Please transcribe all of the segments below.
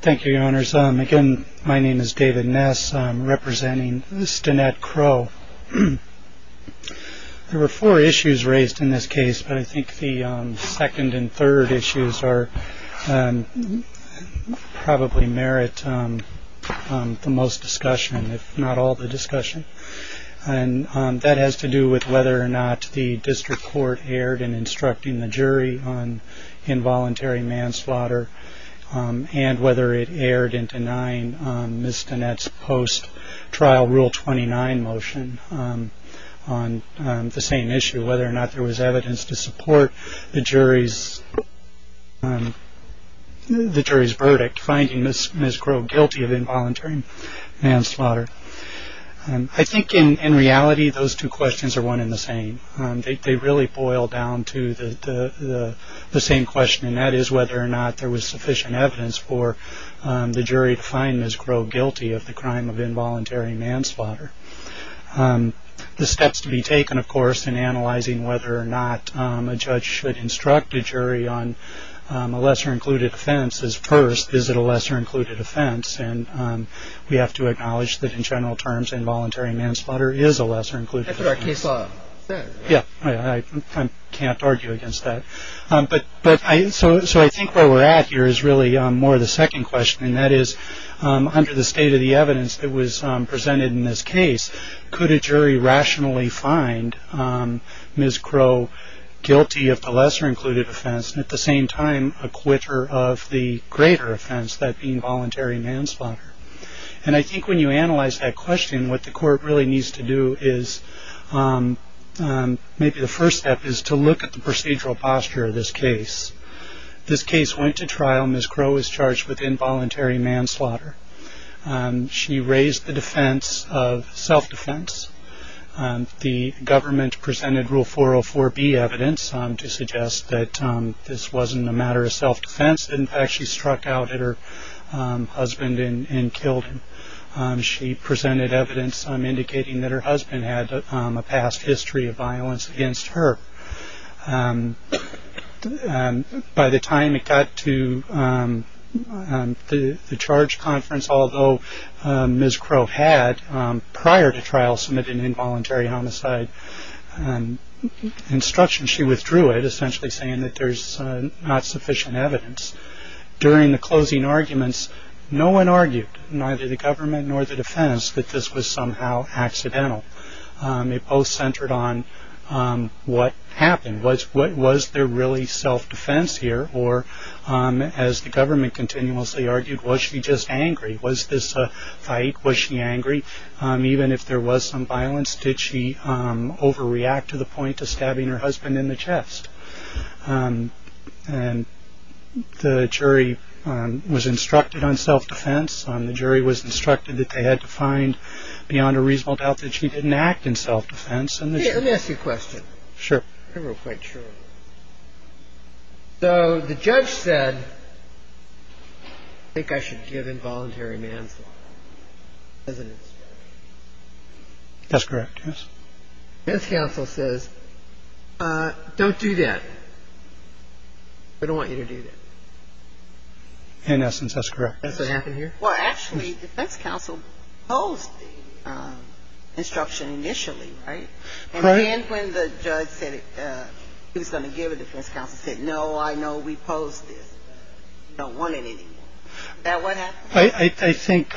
Thank you, Your Honors. Again, my name is David Ness. I'm representing Stanette Crowe. There were four issues raised in this case, but I think the second and third issues probably merit the most discussion, if not all the discussion. That has to do with whether or not the district court erred in instructing the jury on involuntary manslaughter, and whether it erred in denying Ms. Stanette's post-trial Rule 29 motion on the same issue, whether or not there was evidence to support the jury's verdict, finding Ms. Crowe guilty of involuntary manslaughter. I think, in reality, those two questions are one and the same. They really boil down to the same question, and that is whether or not there was sufficient evidence for the jury to find Ms. Crowe guilty of the crime of involuntary manslaughter. The steps to be taken, of course, in analyzing whether or not a judge should instruct a jury on a lesser-included offense is first, is it a lesser-included offense, and we have to acknowledge that, in general terms, involuntary manslaughter is a lesser-included offense. That's what our case law says. Yeah, I can't argue against that. So I think where we're at here is really more the second question, and that is, under the state of the evidence that was presented in this case, could a jury rationally find Ms. Crowe guilty of the lesser-included offense and, at the same time, acquit her of the greater offense, that being voluntary manslaughter? And I think when you analyze that question, what the court really needs to do is maybe the first step is to look at the procedural posture of this case. This case went to trial. Ms. Crowe was charged with involuntary manslaughter. She raised the defense of self-defense. The government presented Rule 404B evidence to suggest that this wasn't a matter of self-defense. In fact, she struck out at her husband and killed him. She presented evidence indicating that her husband had a past history of violence against her. By the time it got to the charge conference, although Ms. Crowe had, prior to trial, submitted an involuntary homicide instruction, she withdrew it, essentially saying that there's not sufficient evidence. During the closing arguments, no one argued, neither the government nor the defense, that this was somehow accidental. It both centered on what happened. Was there really self-defense here? Or, as the government continuously argued, was she just angry? Was this a fight? Was she angry? Even if there was some violence, did she overreact to the point of stabbing her husband in the chest? And the jury was instructed on self-defense. The jury was instructed that they had to find, beyond a reasonable doubt, that she didn't act in self-defense. Let me ask you a question. Sure. I'm not quite sure. So the judge said, I think I should give involuntary manslaughter as an instruction. That's correct, yes. Men's counsel says, don't do that. We don't want you to do that. In essence, that's correct. That's what happened here? Well, actually, defense counsel posed the instruction initially, right? And then when the judge said he was going to give it, defense counsel said, no, I know we posed this. We don't want it anymore. Is that what happened? I think,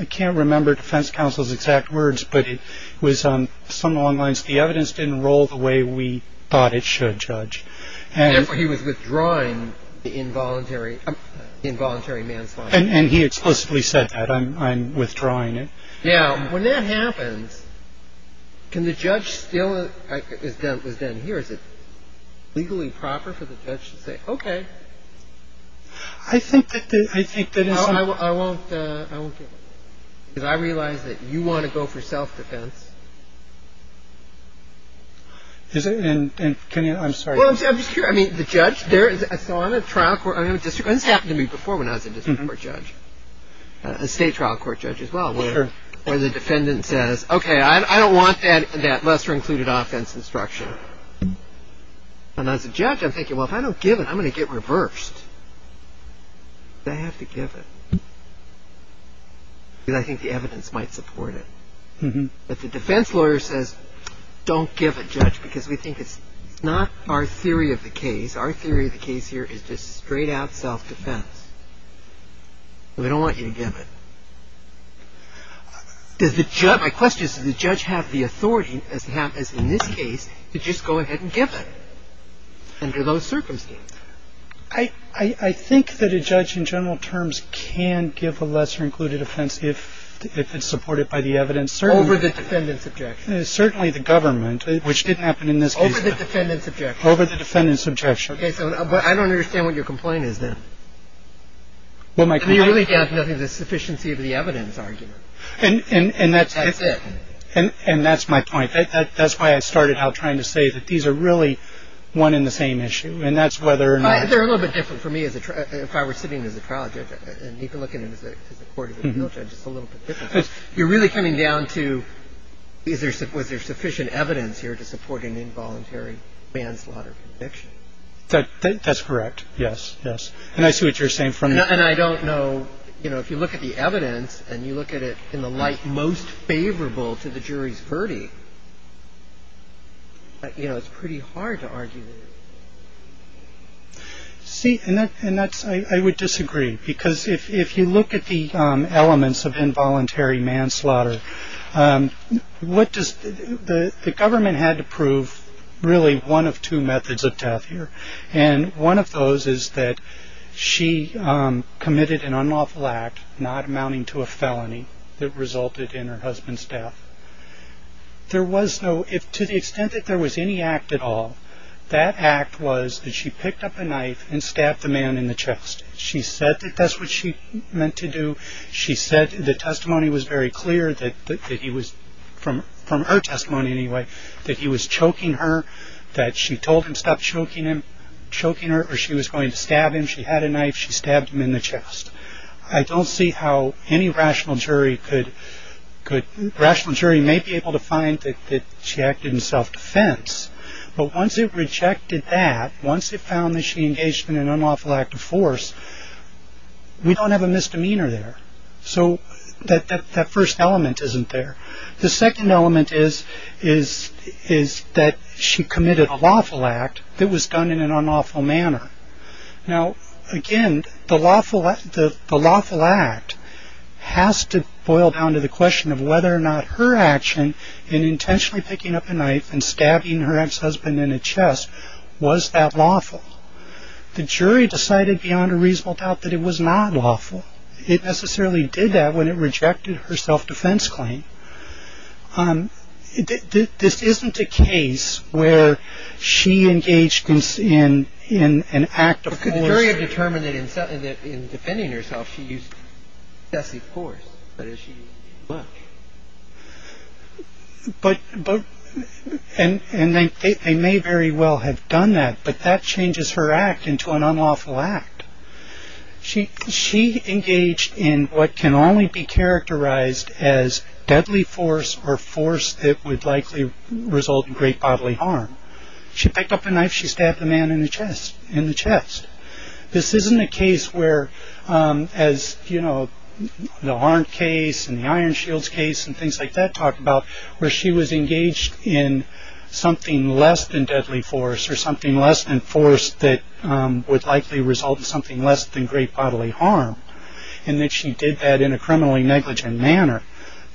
I can't remember defense counsel's exact words, but it was on some long lines. He was withdrawing the involuntary manslaughter. And he explicitly said that. I'm withdrawing it. Yeah. When that happens, can the judge still, as was done here, is it legally proper for the judge to say, OK. I think that is. I won't give it. Because I realize that you want to go for self-defense. Is it. And can you. I'm sorry. I mean, the judge there. So I'm a trial court district. This happened to me before when I was a district court judge, a state trial court judge as well. Or the defendant says, OK, I don't want that that lesser included offense instruction. And as a judge, I'm thinking, well, if I don't give it, I'm going to get reversed. They have to give it. I think the evidence might support it. But the defense lawyer says, don't give it, judge, because we think it's not our theory of the case. Our theory of the case here is just straight out self-defense. We don't want you to give it. Does the judge. My question is, does the judge have the authority as in this case to just go ahead and give it. Under those circumstances. I think that a judge in general terms can give a lesser included offense if it's supported by the evidence. Over the defendant's objection. Certainly the government, which didn't happen in this case. Over the defendant's objection. Over the defendant's objection. But I don't understand what your complaint is then. Well, my complaint. You really have nothing. The sufficiency of the evidence argument. And that's it. And that's my point. That's why I started out trying to say that these are really one in the same issue. And that's whether or not they're a little bit different for me. If I were sitting as a trial. And you can look at it as a court. Just a little bit. You're really coming down to either. Was there sufficient evidence here to support an involuntary manslaughter conviction? That's correct. Yes. Yes. And I see what you're saying. And I don't know. You know, if you look at the evidence and you look at it in the light most favorable to the jury's verdict. You know, it's pretty hard to argue. See, and that's I would disagree. Because if you look at the elements of involuntary manslaughter. What does the government had to prove? Really one of two methods of death here. And one of those is that she committed an unlawful act. Not amounting to a felony that resulted in her husband's death. There was no, to the extent that there was any act at all. That act was that she picked up a knife and stabbed the man in the chest. She said that that's what she meant to do. She said the testimony was very clear that he was, from her testimony anyway. That he was choking her. That she told him stop choking her. Or she was going to stab him. She had a knife. She stabbed him in the chest. I don't see how any rational jury could, rational jury may be able to find that she acted in self-defense. But once it rejected that, once it found that she engaged in an unlawful act of force. We don't have a misdemeanor there. So that first element isn't there. The second element is that she committed a lawful act that was done in an unlawful manner. Now, again, the lawful act has to boil down to the question of whether or not her action. In intentionally picking up a knife and stabbing her ex-husband in the chest. Was that lawful? The jury decided beyond a reasonable doubt that it was not lawful. It necessarily did that when it rejected her self-defense claim. This isn't a case where she engaged in an act of force. The jury had determined that in defending herself she used excessive force. But as she looked. But, and they may very well have done that. But that changes her act into an unlawful act. She engaged in what can only be characterized as deadly force. Or force that would likely result in great bodily harm. She picked up a knife, she stabbed the man in the chest. In the chest. This isn't a case where as, you know, the arm case and the iron shields case. And things like that talk about where she was engaged in something less than deadly force. Or something less than force that would likely result in something less than great bodily harm. And that she did that in a criminally negligent manner.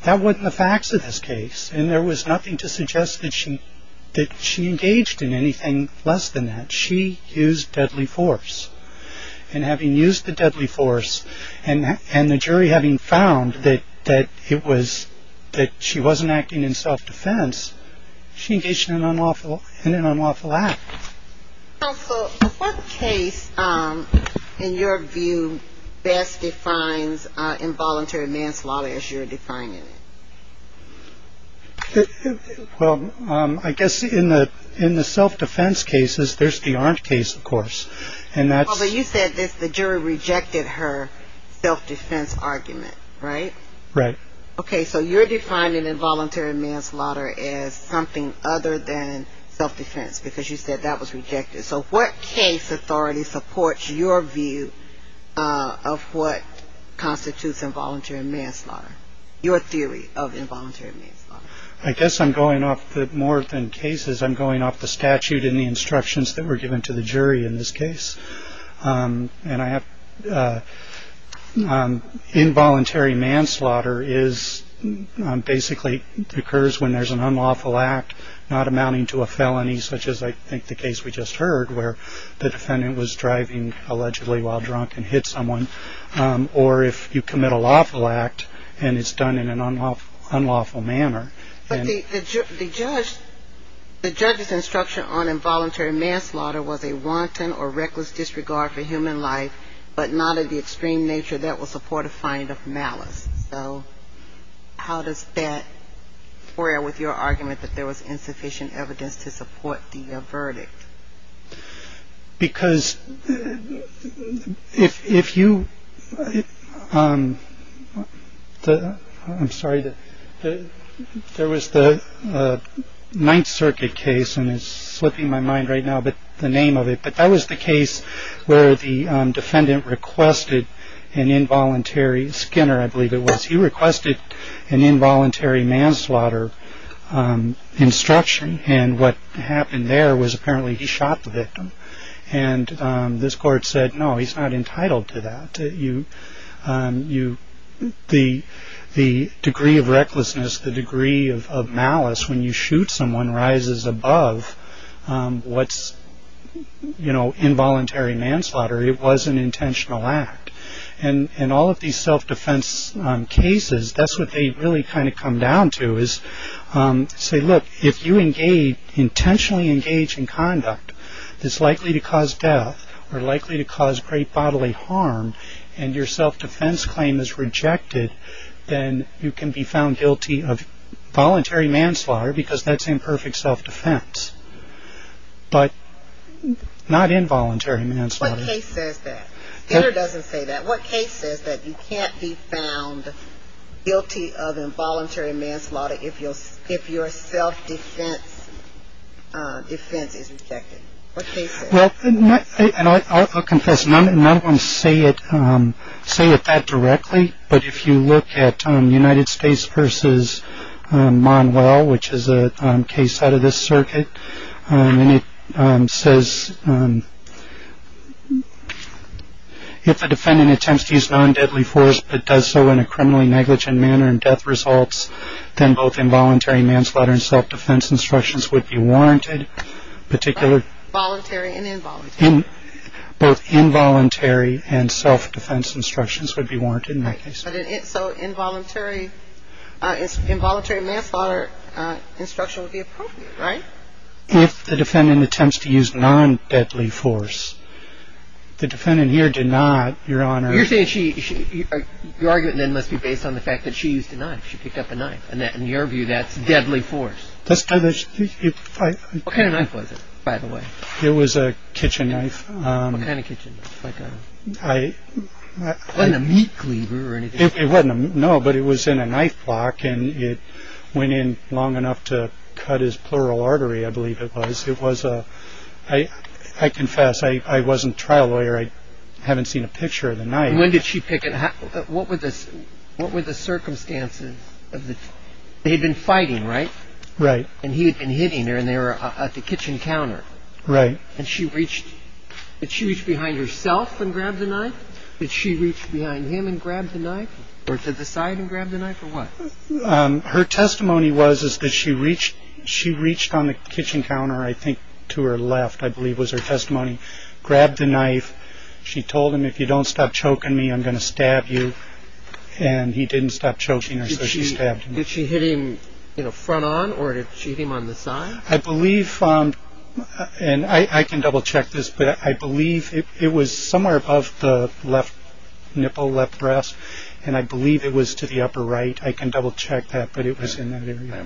That wasn't the facts of this case. And there was nothing to suggest that she engaged in anything less than that. She used deadly force. And having used the deadly force. And the jury having found that it was, that she wasn't acting in self-defense. She engaged in an unlawful act. So what case in your view best defines involuntary manslaughter as you're defining it? Well, I guess in the self-defense cases, there's the arm case, of course. And that's. But you said the jury rejected her self-defense argument. Right? Right. Okay. So you're defining involuntary manslaughter as something other than self-defense. Because you said that was rejected. So what case authority supports your view of what constitutes involuntary manslaughter? Your theory of involuntary manslaughter. I guess I'm going off more than cases. I'm going off the statute and the instructions that were given to the jury in this case. And involuntary manslaughter is basically occurs when there's an unlawful act not amounting to a felony, such as I think the case we just heard where the defendant was driving allegedly while drunk and hit someone. Or if you commit a lawful act and it's done in an unlawful manner. But the judge, the judge's instruction on involuntary manslaughter was a wanton or reckless disregard for human life, but not of the extreme nature that will support a fine of malice. So how does that square with your argument that there was insufficient evidence to support the verdict? Because if you. I'm sorry that there was the Ninth Circuit case and it's slipping my mind right now, but the name of it. But that was the case where the defendant requested an involuntary Skinner. I believe it was he requested an involuntary manslaughter instruction. And what happened there was apparently he shot the victim. And this court said, no, he's not entitled to that. You you the the degree of recklessness, the degree of malice when you shoot someone rises above what's, you know, involuntary manslaughter. It was an intentional act. And in all of these self-defense cases, that's what they really kind of come down to is say, look, if you engage intentionally engage in conduct that's likely to cause death or likely to cause great bodily harm and your self-defense claim is rejected, then you can be found guilty of voluntary manslaughter because that's imperfect self-defense. But not involuntary manslaughter. What case says that? Skinner doesn't say that. What case says that you can't be found guilty of involuntary manslaughter if your self-defense defense is rejected? Well, I'll confess, none of them say it say it that directly. But if you look at the United States versus Manuel, which is a case out of this circuit, and it says if the defendant attempts to use non-deadly force, but does so in a criminally negligent manner and death results, then both involuntary manslaughter and self-defense instructions would be warranted. Particular voluntary and involuntary, both involuntary and self-defense instructions would be warranted. So involuntary manslaughter instruction would be appropriate, right? If the defendant attempts to use non-deadly force. The defendant here did not, Your Honor. You're saying your argument then must be based on the fact that she used a knife. She picked up a knife. And in your view, that's deadly force. What kind of knife was it, by the way? It was a kitchen knife. What kind of kitchen knife? It wasn't a meat cleaver or anything. No, but it was in a knife block. And it went in long enough to cut his pleural artery, I believe it was. I confess, I wasn't a trial lawyer. I haven't seen a picture of the knife. When did she pick it up? What were the circumstances? They had been fighting, right? Right. And he had been hitting her, and they were at the kitchen counter. Right. And she reached, did she reach behind herself and grab the knife? Did she reach behind him and grab the knife, or to the side and grab the knife, or what? Her testimony was that she reached on the kitchen counter, I think to her left, I believe was her testimony, grabbed the knife. She told him, if you don't stop choking me, I'm going to stab you. And he didn't stop choking her, so she stabbed him. Did she hit him front on, or did she hit him on the side? I believe, and I can double-check this, but I believe it was somewhere above the left nipple, left breast, and I believe it was to the upper right. I can double-check that, but it was in that area.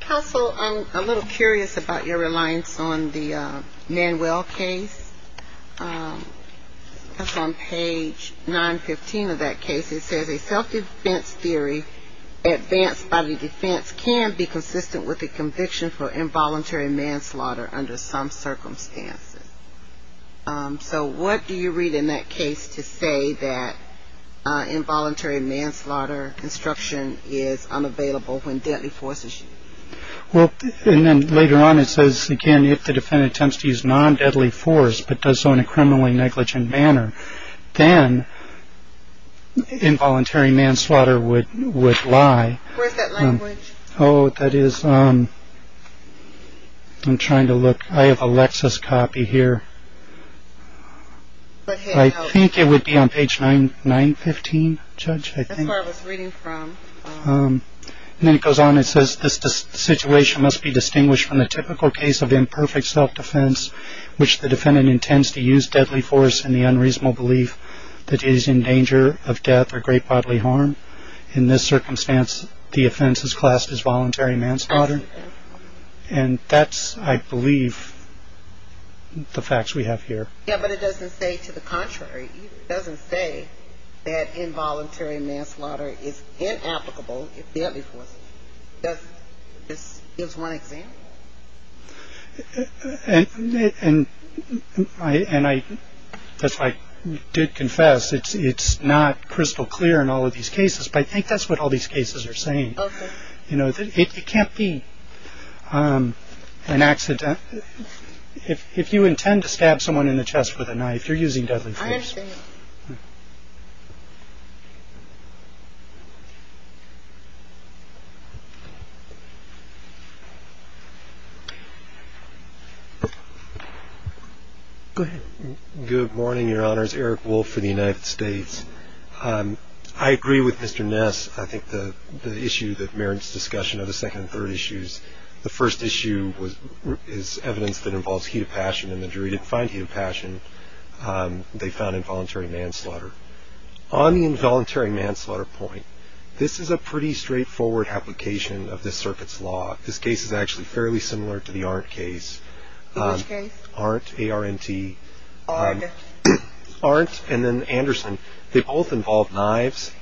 Counsel, I'm a little curious about your reliance on the Manuel case. That's on page 915 of that case. It says, a self-defense theory advanced by the defense can be consistent with a conviction for involuntary manslaughter under some circumstances. So what do you read in that case to say that involuntary manslaughter instruction is unavailable when deadly force is used? Well, and then later on it says, again, if the defendant attempts to use non-deadly force, but does so in a criminally negligent manner, then involuntary manslaughter would lie. Where's that language? Oh, that is, I'm trying to look. I have a Lexus copy here. I think it would be on page 915, Judge, I think. That's where I was reading from. And then it goes on and says, this situation must be distinguished from the typical case of imperfect self-defense, which the defendant intends to use deadly force in the unreasonable belief that he is in danger of death or great bodily harm. In this circumstance, the offense is classed as voluntary manslaughter. And that's, I believe, the facts we have here. Yeah, but it doesn't say to the contrary. It doesn't say that involuntary manslaughter is inapplicable if deadly force is used. It gives one example. And I did confess it's not crystal clear in all of these cases, but I think that's what all these cases are saying. Okay. You know, it can't be an accident. If you intend to stab someone in the chest with a knife, you're using deadly force. I understand. Good. Good morning, Your Honors. Eric Wolfe for the United States. I agree with Mr. Ness. I think the issue that merits discussion of the second and third issues. The first issue is evidence that involves heat of passion and the jury didn't find heat of passion. They found involuntary manslaughter on the involuntary manslaughter point. This is a pretty straightforward application of the circuit's law. This case is actually fairly similar to the art case. Aren't aren't aren't. And then Anderson. They both involve knives.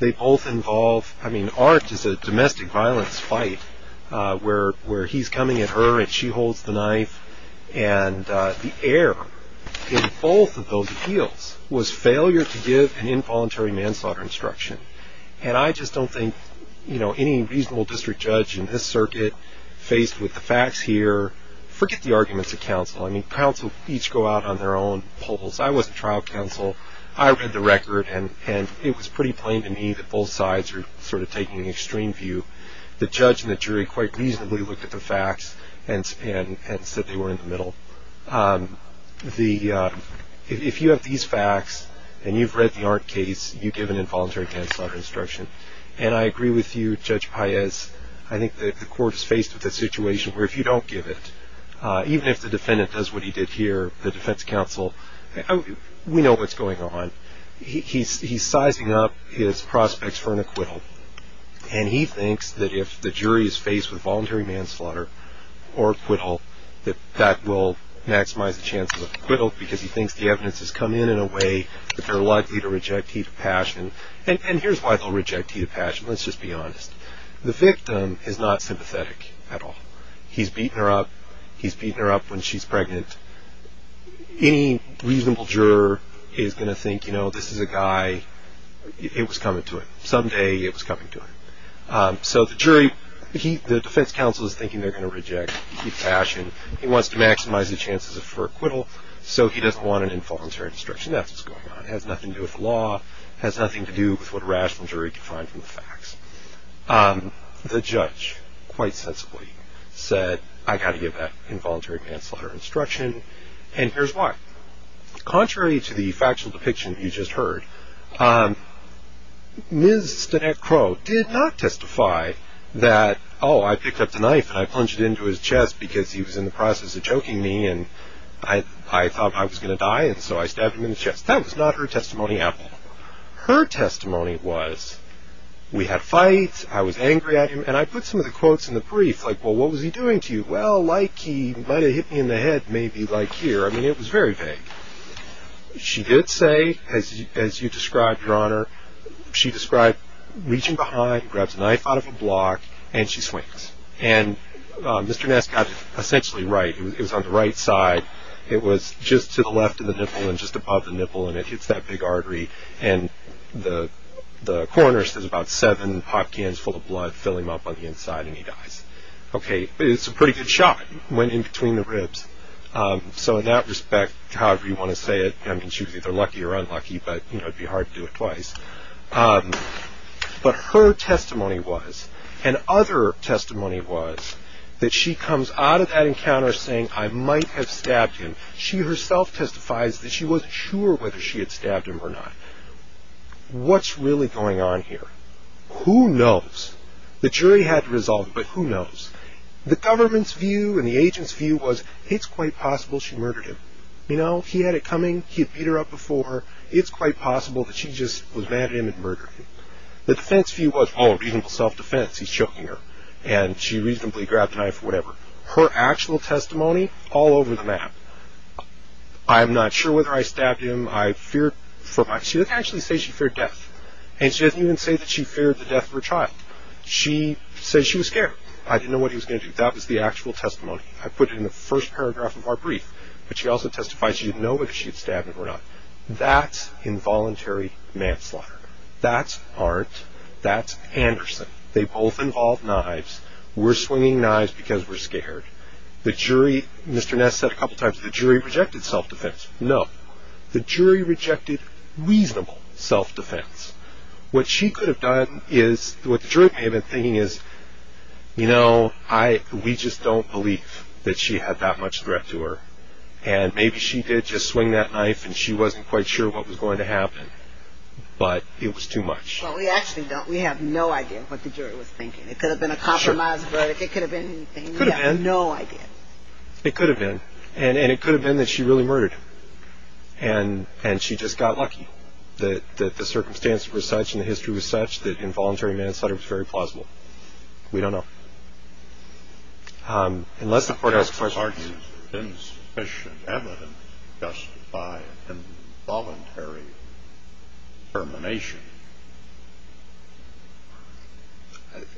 They both involve. I mean, art is a domestic violence fight where where he's coming at her and she holds the knife and the air. Both of those appeals was failure to give an involuntary manslaughter instruction. And I just don't think, you know, any reasonable district judge in this circuit faced with the facts here. Forget the arguments of counsel. I mean, counsel each go out on their own polls. I was a trial counsel. I read the record, and it was pretty plain to me that both sides are sort of taking the extreme view. The judge and the jury quite reasonably looked at the facts and said they were in the middle. The if you have these facts and you've read the art case, you give an involuntary manslaughter instruction. And I agree with you, Judge Pais. I think that the court is faced with a situation where if you don't give it, even if the defendant does what he did here, the defense counsel, we know what's going on. He's sizing up his prospects for an acquittal. And he thinks that if the jury is faced with a voluntary manslaughter or acquittal, that that will maximize the chances of acquittal because he thinks the evidence has come in in a way that they're likely to reject heat of passion. And here's why they'll reject heat of passion. Let's just be honest. The victim is not sympathetic at all. He's beaten her up. He's beaten her up when she's pregnant. Any reasonable juror is going to think, you know, this is a guy. It was coming to it. Someday it was coming to it. So the jury, the defense counsel is thinking they're going to reject heat of passion. He wants to maximize the chances for acquittal, so he doesn't want an involuntary instruction. That's what's going on. It has nothing to do with law. It has nothing to do with what a rational jury can find from the facts. The judge quite sensibly said, I've got to give that involuntary manslaughter instruction, and here's why. Contrary to the factual depiction you just heard, Ms. Stenette Crow did not testify that, oh, I picked up the knife and I plunged it into his chest because he was in the process of choking me, and I thought I was going to die, and so I stabbed him in the chest. That was not her testimony at all. Her testimony was, we had fights, I was angry at him, and I put some of the quotes in the brief, like, well, what was he doing to you? Well, like he might have hit me in the head maybe, like here. I mean, it was very vague. She did say, as you described, Your Honor, she described reaching behind, grabs a knife out of a block, and she swings. And Mr. Ness got it essentially right. It was on the right side. It was just to the left of the nipple and just above the nipple, and it hits that big artery, and the coroner says about seven pot cans full of blood fill him up on the inside, and he dies. Okay, it's a pretty good shot. It went in between the ribs. So in that respect, however you want to say it, I mean, she was either lucky or unlucky, but it would be hard to do it twice. But her testimony was, and other testimony was, that she comes out of that encounter saying, I might have stabbed him. She herself testifies that she wasn't sure whether she had stabbed him or not. What's really going on here? Who knows? The jury had to resolve it, but who knows? The government's view and the agent's view was, it's quite possible she murdered him. You know, he had it coming. He had beat her up before. It's quite possible that she just was mad at him and murdered him. The defense view was, oh, reasonable self-defense. He's choking her, and she reasonably grabbed the knife or whatever. Her actual testimony, all over the map. I'm not sure whether I stabbed him. I feared for my, she doesn't actually say she feared death. And she doesn't even say that she feared the death of her child. She says she was scared. I didn't know what he was going to do. That was the actual testimony. I put it in the first paragraph of our brief. But she also testifies she didn't know whether she had stabbed him or not. That's involuntary manslaughter. That's aren't. That's Anderson. They both involved knives. We're swinging knives because we're scared. The jury, Mr. Ness said a couple times, the jury rejected self-defense. No. The jury rejected reasonable self-defense. What she could have done is, what the jury may have been thinking is, you know, we just don't believe that she had that much threat to her. And maybe she did just swing that knife, and she wasn't quite sure what was going to happen. But it was too much. Well, we actually don't. We have no idea what the jury was thinking. It could have been a compromised verdict. It could have been anything. We have no idea. It could have been. And it could have been that she really murdered him. And she just got lucky that the circumstances were such, and the history was such, that involuntary manslaughter was very plausible. We don't know. Unless the court has questions. Has there been sufficient evidence to justify involuntary termination?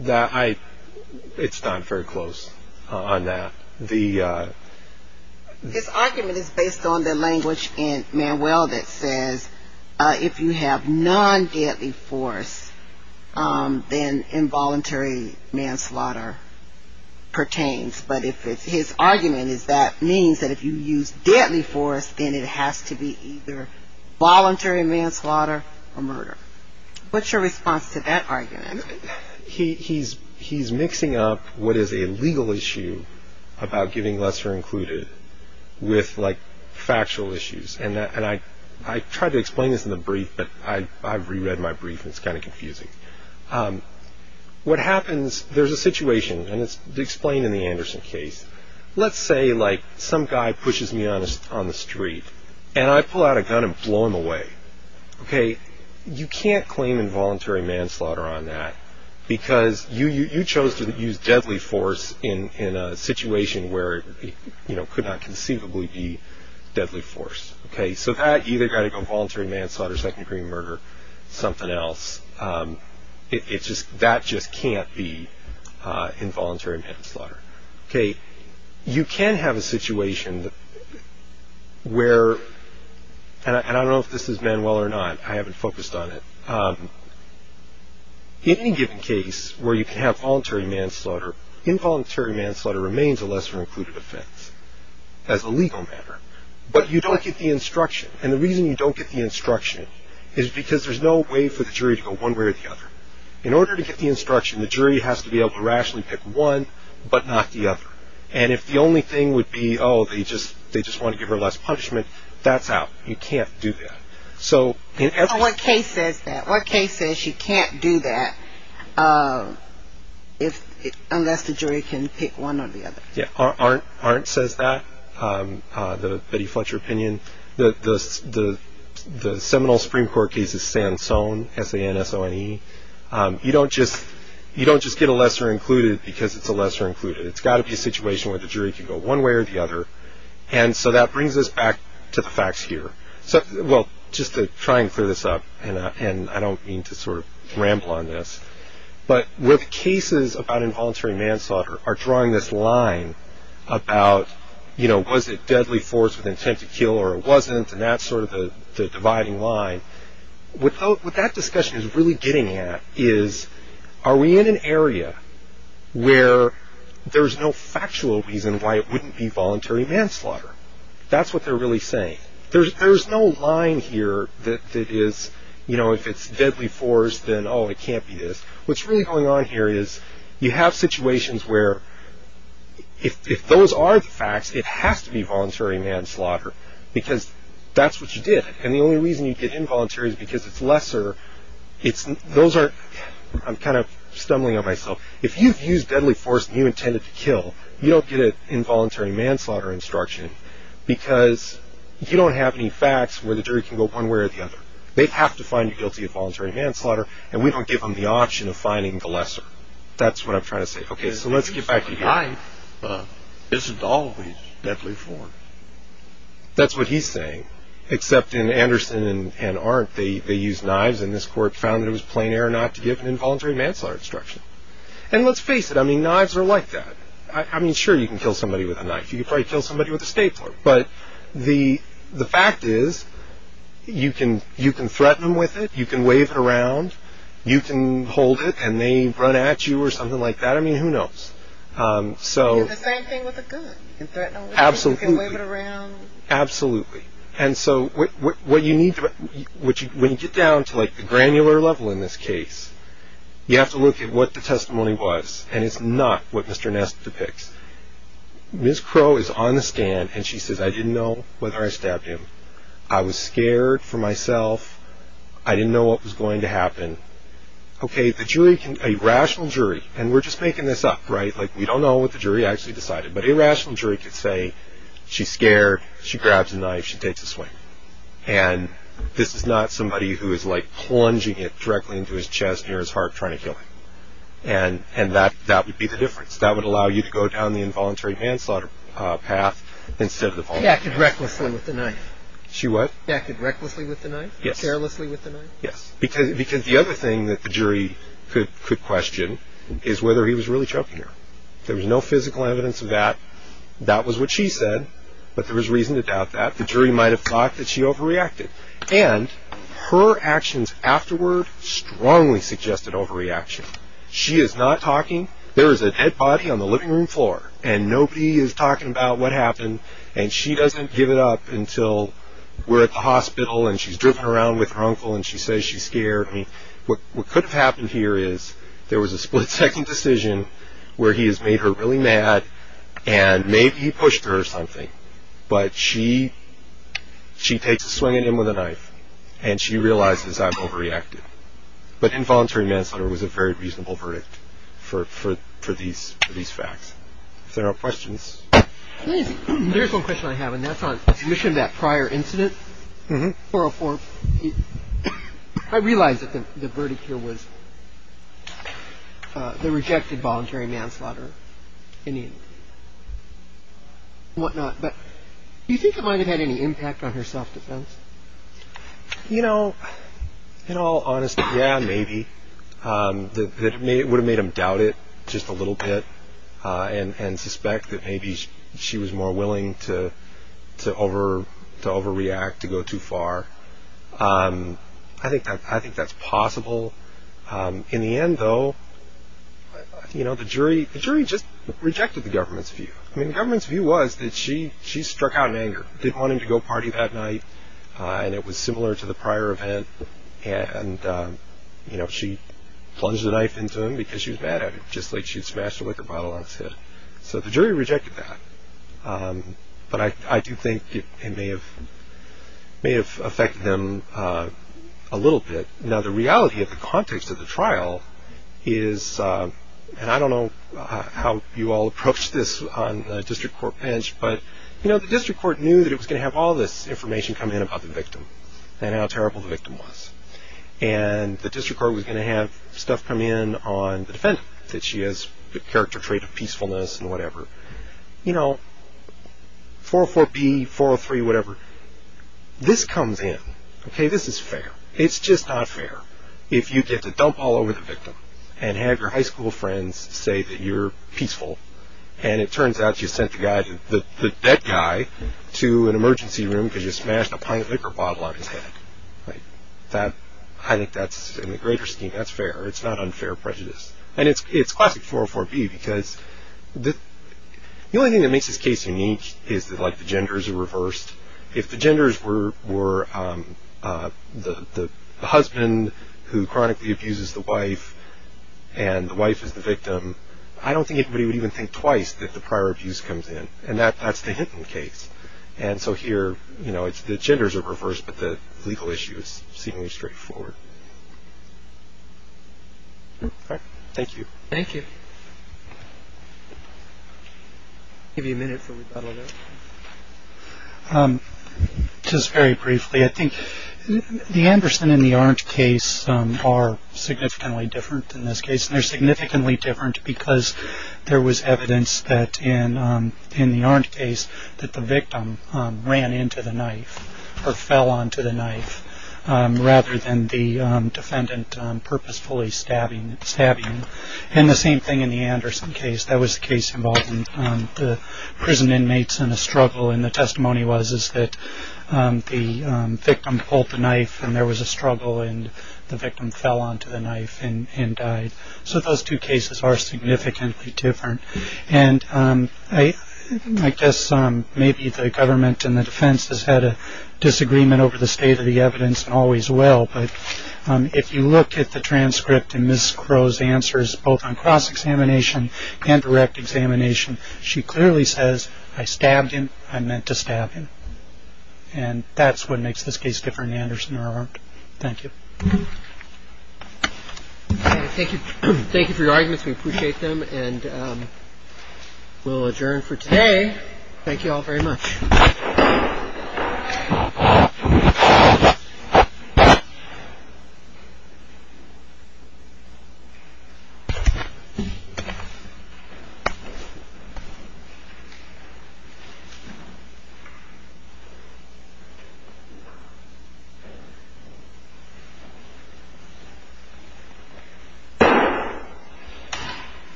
It's not very close on that. His argument is based on the language in Manuel that says, if you have non-deadly force, then involuntary manslaughter pertains. But his argument is that means that if you use deadly force, then it has to be either voluntary manslaughter or murder. What's your response to that argument? He's mixing up what is a legal issue about giving lesser included with, like, factual issues. And I tried to explain this in the brief, but I reread my brief, and it's kind of confusing. What happens, there's a situation, and it's explained in the Anderson case. Let's say, like, some guy pushes me on the street, and I pull out a gun and blow him away. You can't claim involuntary manslaughter on that, because you chose to use deadly force in a situation where it could not conceivably be deadly force. So that either got to go voluntary manslaughter, second-degree murder, something else. That just can't be involuntary manslaughter. You can have a situation where, and I don't know if this is Manuel or not. I haven't focused on it. In any given case where you can have voluntary manslaughter, involuntary manslaughter remains a lesser included offense as a legal matter. But you don't get the instruction. And the reason you don't get the instruction is because there's no way for the jury to go one way or the other. In order to get the instruction, the jury has to be able to rationally pick one but not the other. And if the only thing would be, oh, they just want to give her less punishment, that's out. You can't do that. So in every case… But what case says that? What case says you can't do that unless the jury can pick one or the other? Yeah, Arndt says that, the Betty Fletcher opinion. The Seminole Supreme Court case is Sansone, S-A-N-S-O-N-E. You don't just get a lesser included because it's a lesser included. It's got to be a situation where the jury can go one way or the other. And so that brings us back to the facts here. Well, just to try and clear this up, and I don't mean to sort of ramble on this. But where the cases about involuntary manslaughter are drawing this line about, you know, was it deadly force with intent to kill or it wasn't, and that's sort of the dividing line. What that discussion is really getting at is, are we in an area where there's no factual reason why it wouldn't be voluntary manslaughter? That's what they're really saying. There's no line here that is, you know, if it's deadly force, then, oh, it can't be this. What's really going on here is you have situations where if those are the facts, it has to be voluntary manslaughter because that's what you did. And the only reason you get involuntary is because it's lesser. Those are – I'm kind of stumbling on myself. If you've used deadly force and you intended to kill, you don't get an involuntary manslaughter instruction because you don't have any facts where the jury can go one way or the other. They'd have to find you guilty of voluntary manslaughter, and we don't give them the option of finding the lesser. That's what I'm trying to say. Okay, so let's get back to you. Isn't always deadly force. That's what he's saying, except in Anderson and Arndt, they used knives, and this court found that it was plain error not to give an involuntary manslaughter instruction. And let's face it. I mean, knives are like that. I mean, sure, you can kill somebody with a knife. You can probably kill somebody with a stapler, but the fact is you can threaten them with it. You can wave it around. You can hold it, and they run at you or something like that. I mean, who knows? You can do the same thing with a gun. You can threaten them with it. Absolutely. You can wave it around. Absolutely. And so what you need to – when you get down to, like, the granular level in this case, you have to look at what the testimony was, and it's not what Mr. Ness depicts. Ms. Crow is on the stand, and she says, I didn't know whether I stabbed him. I was scared for myself. I didn't know what was going to happen. Okay, the jury can – a rational jury – and we're just making this up, right? Like, we don't know what the jury actually decided, but a rational jury could say she's scared. She grabs a knife. She takes a swing. And this is not somebody who is, like, plunging it directly into his chest near his heart trying to kill him. And that would be the difference. That would allow you to go down the involuntary manslaughter path instead of the – He acted recklessly with the knife. She what? He acted recklessly with the knife. Yes. Carelessly with the knife. Yes. Because the other thing that the jury could question is whether he was really choking her. There was no physical evidence of that. That was what she said, but there was reason to doubt that. The jury might have thought that she overreacted. And her actions afterward strongly suggested overreaction. She is not talking. There is a dead body on the living room floor, and nobody is talking about what happened. And she doesn't give it up until we're at the hospital, and she's driven around with her uncle, and she says she's scared. I mean, what could have happened here is there was a split-second decision where he has made her really mad, and maybe he pushed her or something. But she takes a swing at him with a knife, and she realizes, I'm overreacted. But involuntary manslaughter was a very reasonable verdict for these facts. If there are questions. There's one question I have, and that's on submission of that prior incident, 404. I realize that the verdict here was they rejected voluntary manslaughter and whatnot, but do you think it might have had any impact on her self-defense? You know, in all honesty, yeah, maybe. It would have made him doubt it just a little bit and suspect that maybe she was more willing to overreact, to go too far. I think that's possible. In the end, though, the jury just rejected the government's view. I mean, the government's view was that she struck out in anger. Didn't want him to go party that night, and it was similar to the prior event. And, you know, she plunged a knife into him because she was mad at him, just like she had smashed a liquor bottle on his head. So the jury rejected that. But I do think it may have affected them a little bit. Now, the reality of the context of the trial is, and I don't know how you all approach this on a district court bench, but the district court knew that it was going to have all this information come in about the victim and how terrible the victim was. And the district court was going to have stuff come in on the defendant, that she has the character trait of peacefulness and whatever. You know, 404B, 403, whatever, this comes in. Okay, this is fair. It's just not fair if you get to dump all over the victim and have your high school friends say that you're peaceful, and it turns out you sent that guy to an emergency room because you smashed a pint of liquor bottle on his head. I think that's, in the greater scheme, that's fair. It's not unfair prejudice. And it's classic 404B because the only thing that makes this case unique is that, like, the genders are reversed. If the genders were the husband who chronically abuses the wife and the wife is the victim, I don't think anybody would even think twice that the prior abuse comes in, and that's the Hinton case. And so here, you know, the genders are reversed, but the legal issue is seemingly straightforward. All right, thank you. Thank you. I'll give you a minute for rebuttal there. Just very briefly, I think the Anderson and the Orange case are significantly different than this case, and they're significantly different because there was evidence that in the Orange case that the victim ran into the knife or fell onto the knife rather than the defendant purposefully stabbing him. And the same thing in the Anderson case. That was the case involving the prison inmates in a struggle, and the testimony was that the victim pulled the knife and there was a struggle, and the victim fell onto the knife and died. So those two cases are significantly different. And I guess maybe the government and the defense has had a disagreement over the state of the evidence and always will, but if you look at the transcript in Ms. Crow's answers, both on cross-examination and direct examination, she clearly says, I stabbed him, I meant to stab him. And that's what makes this case different than the Anderson or Orange. Thank you. Thank you for your arguments. We appreciate them. And we'll adjourn for today. Thank you all very much. Thank you.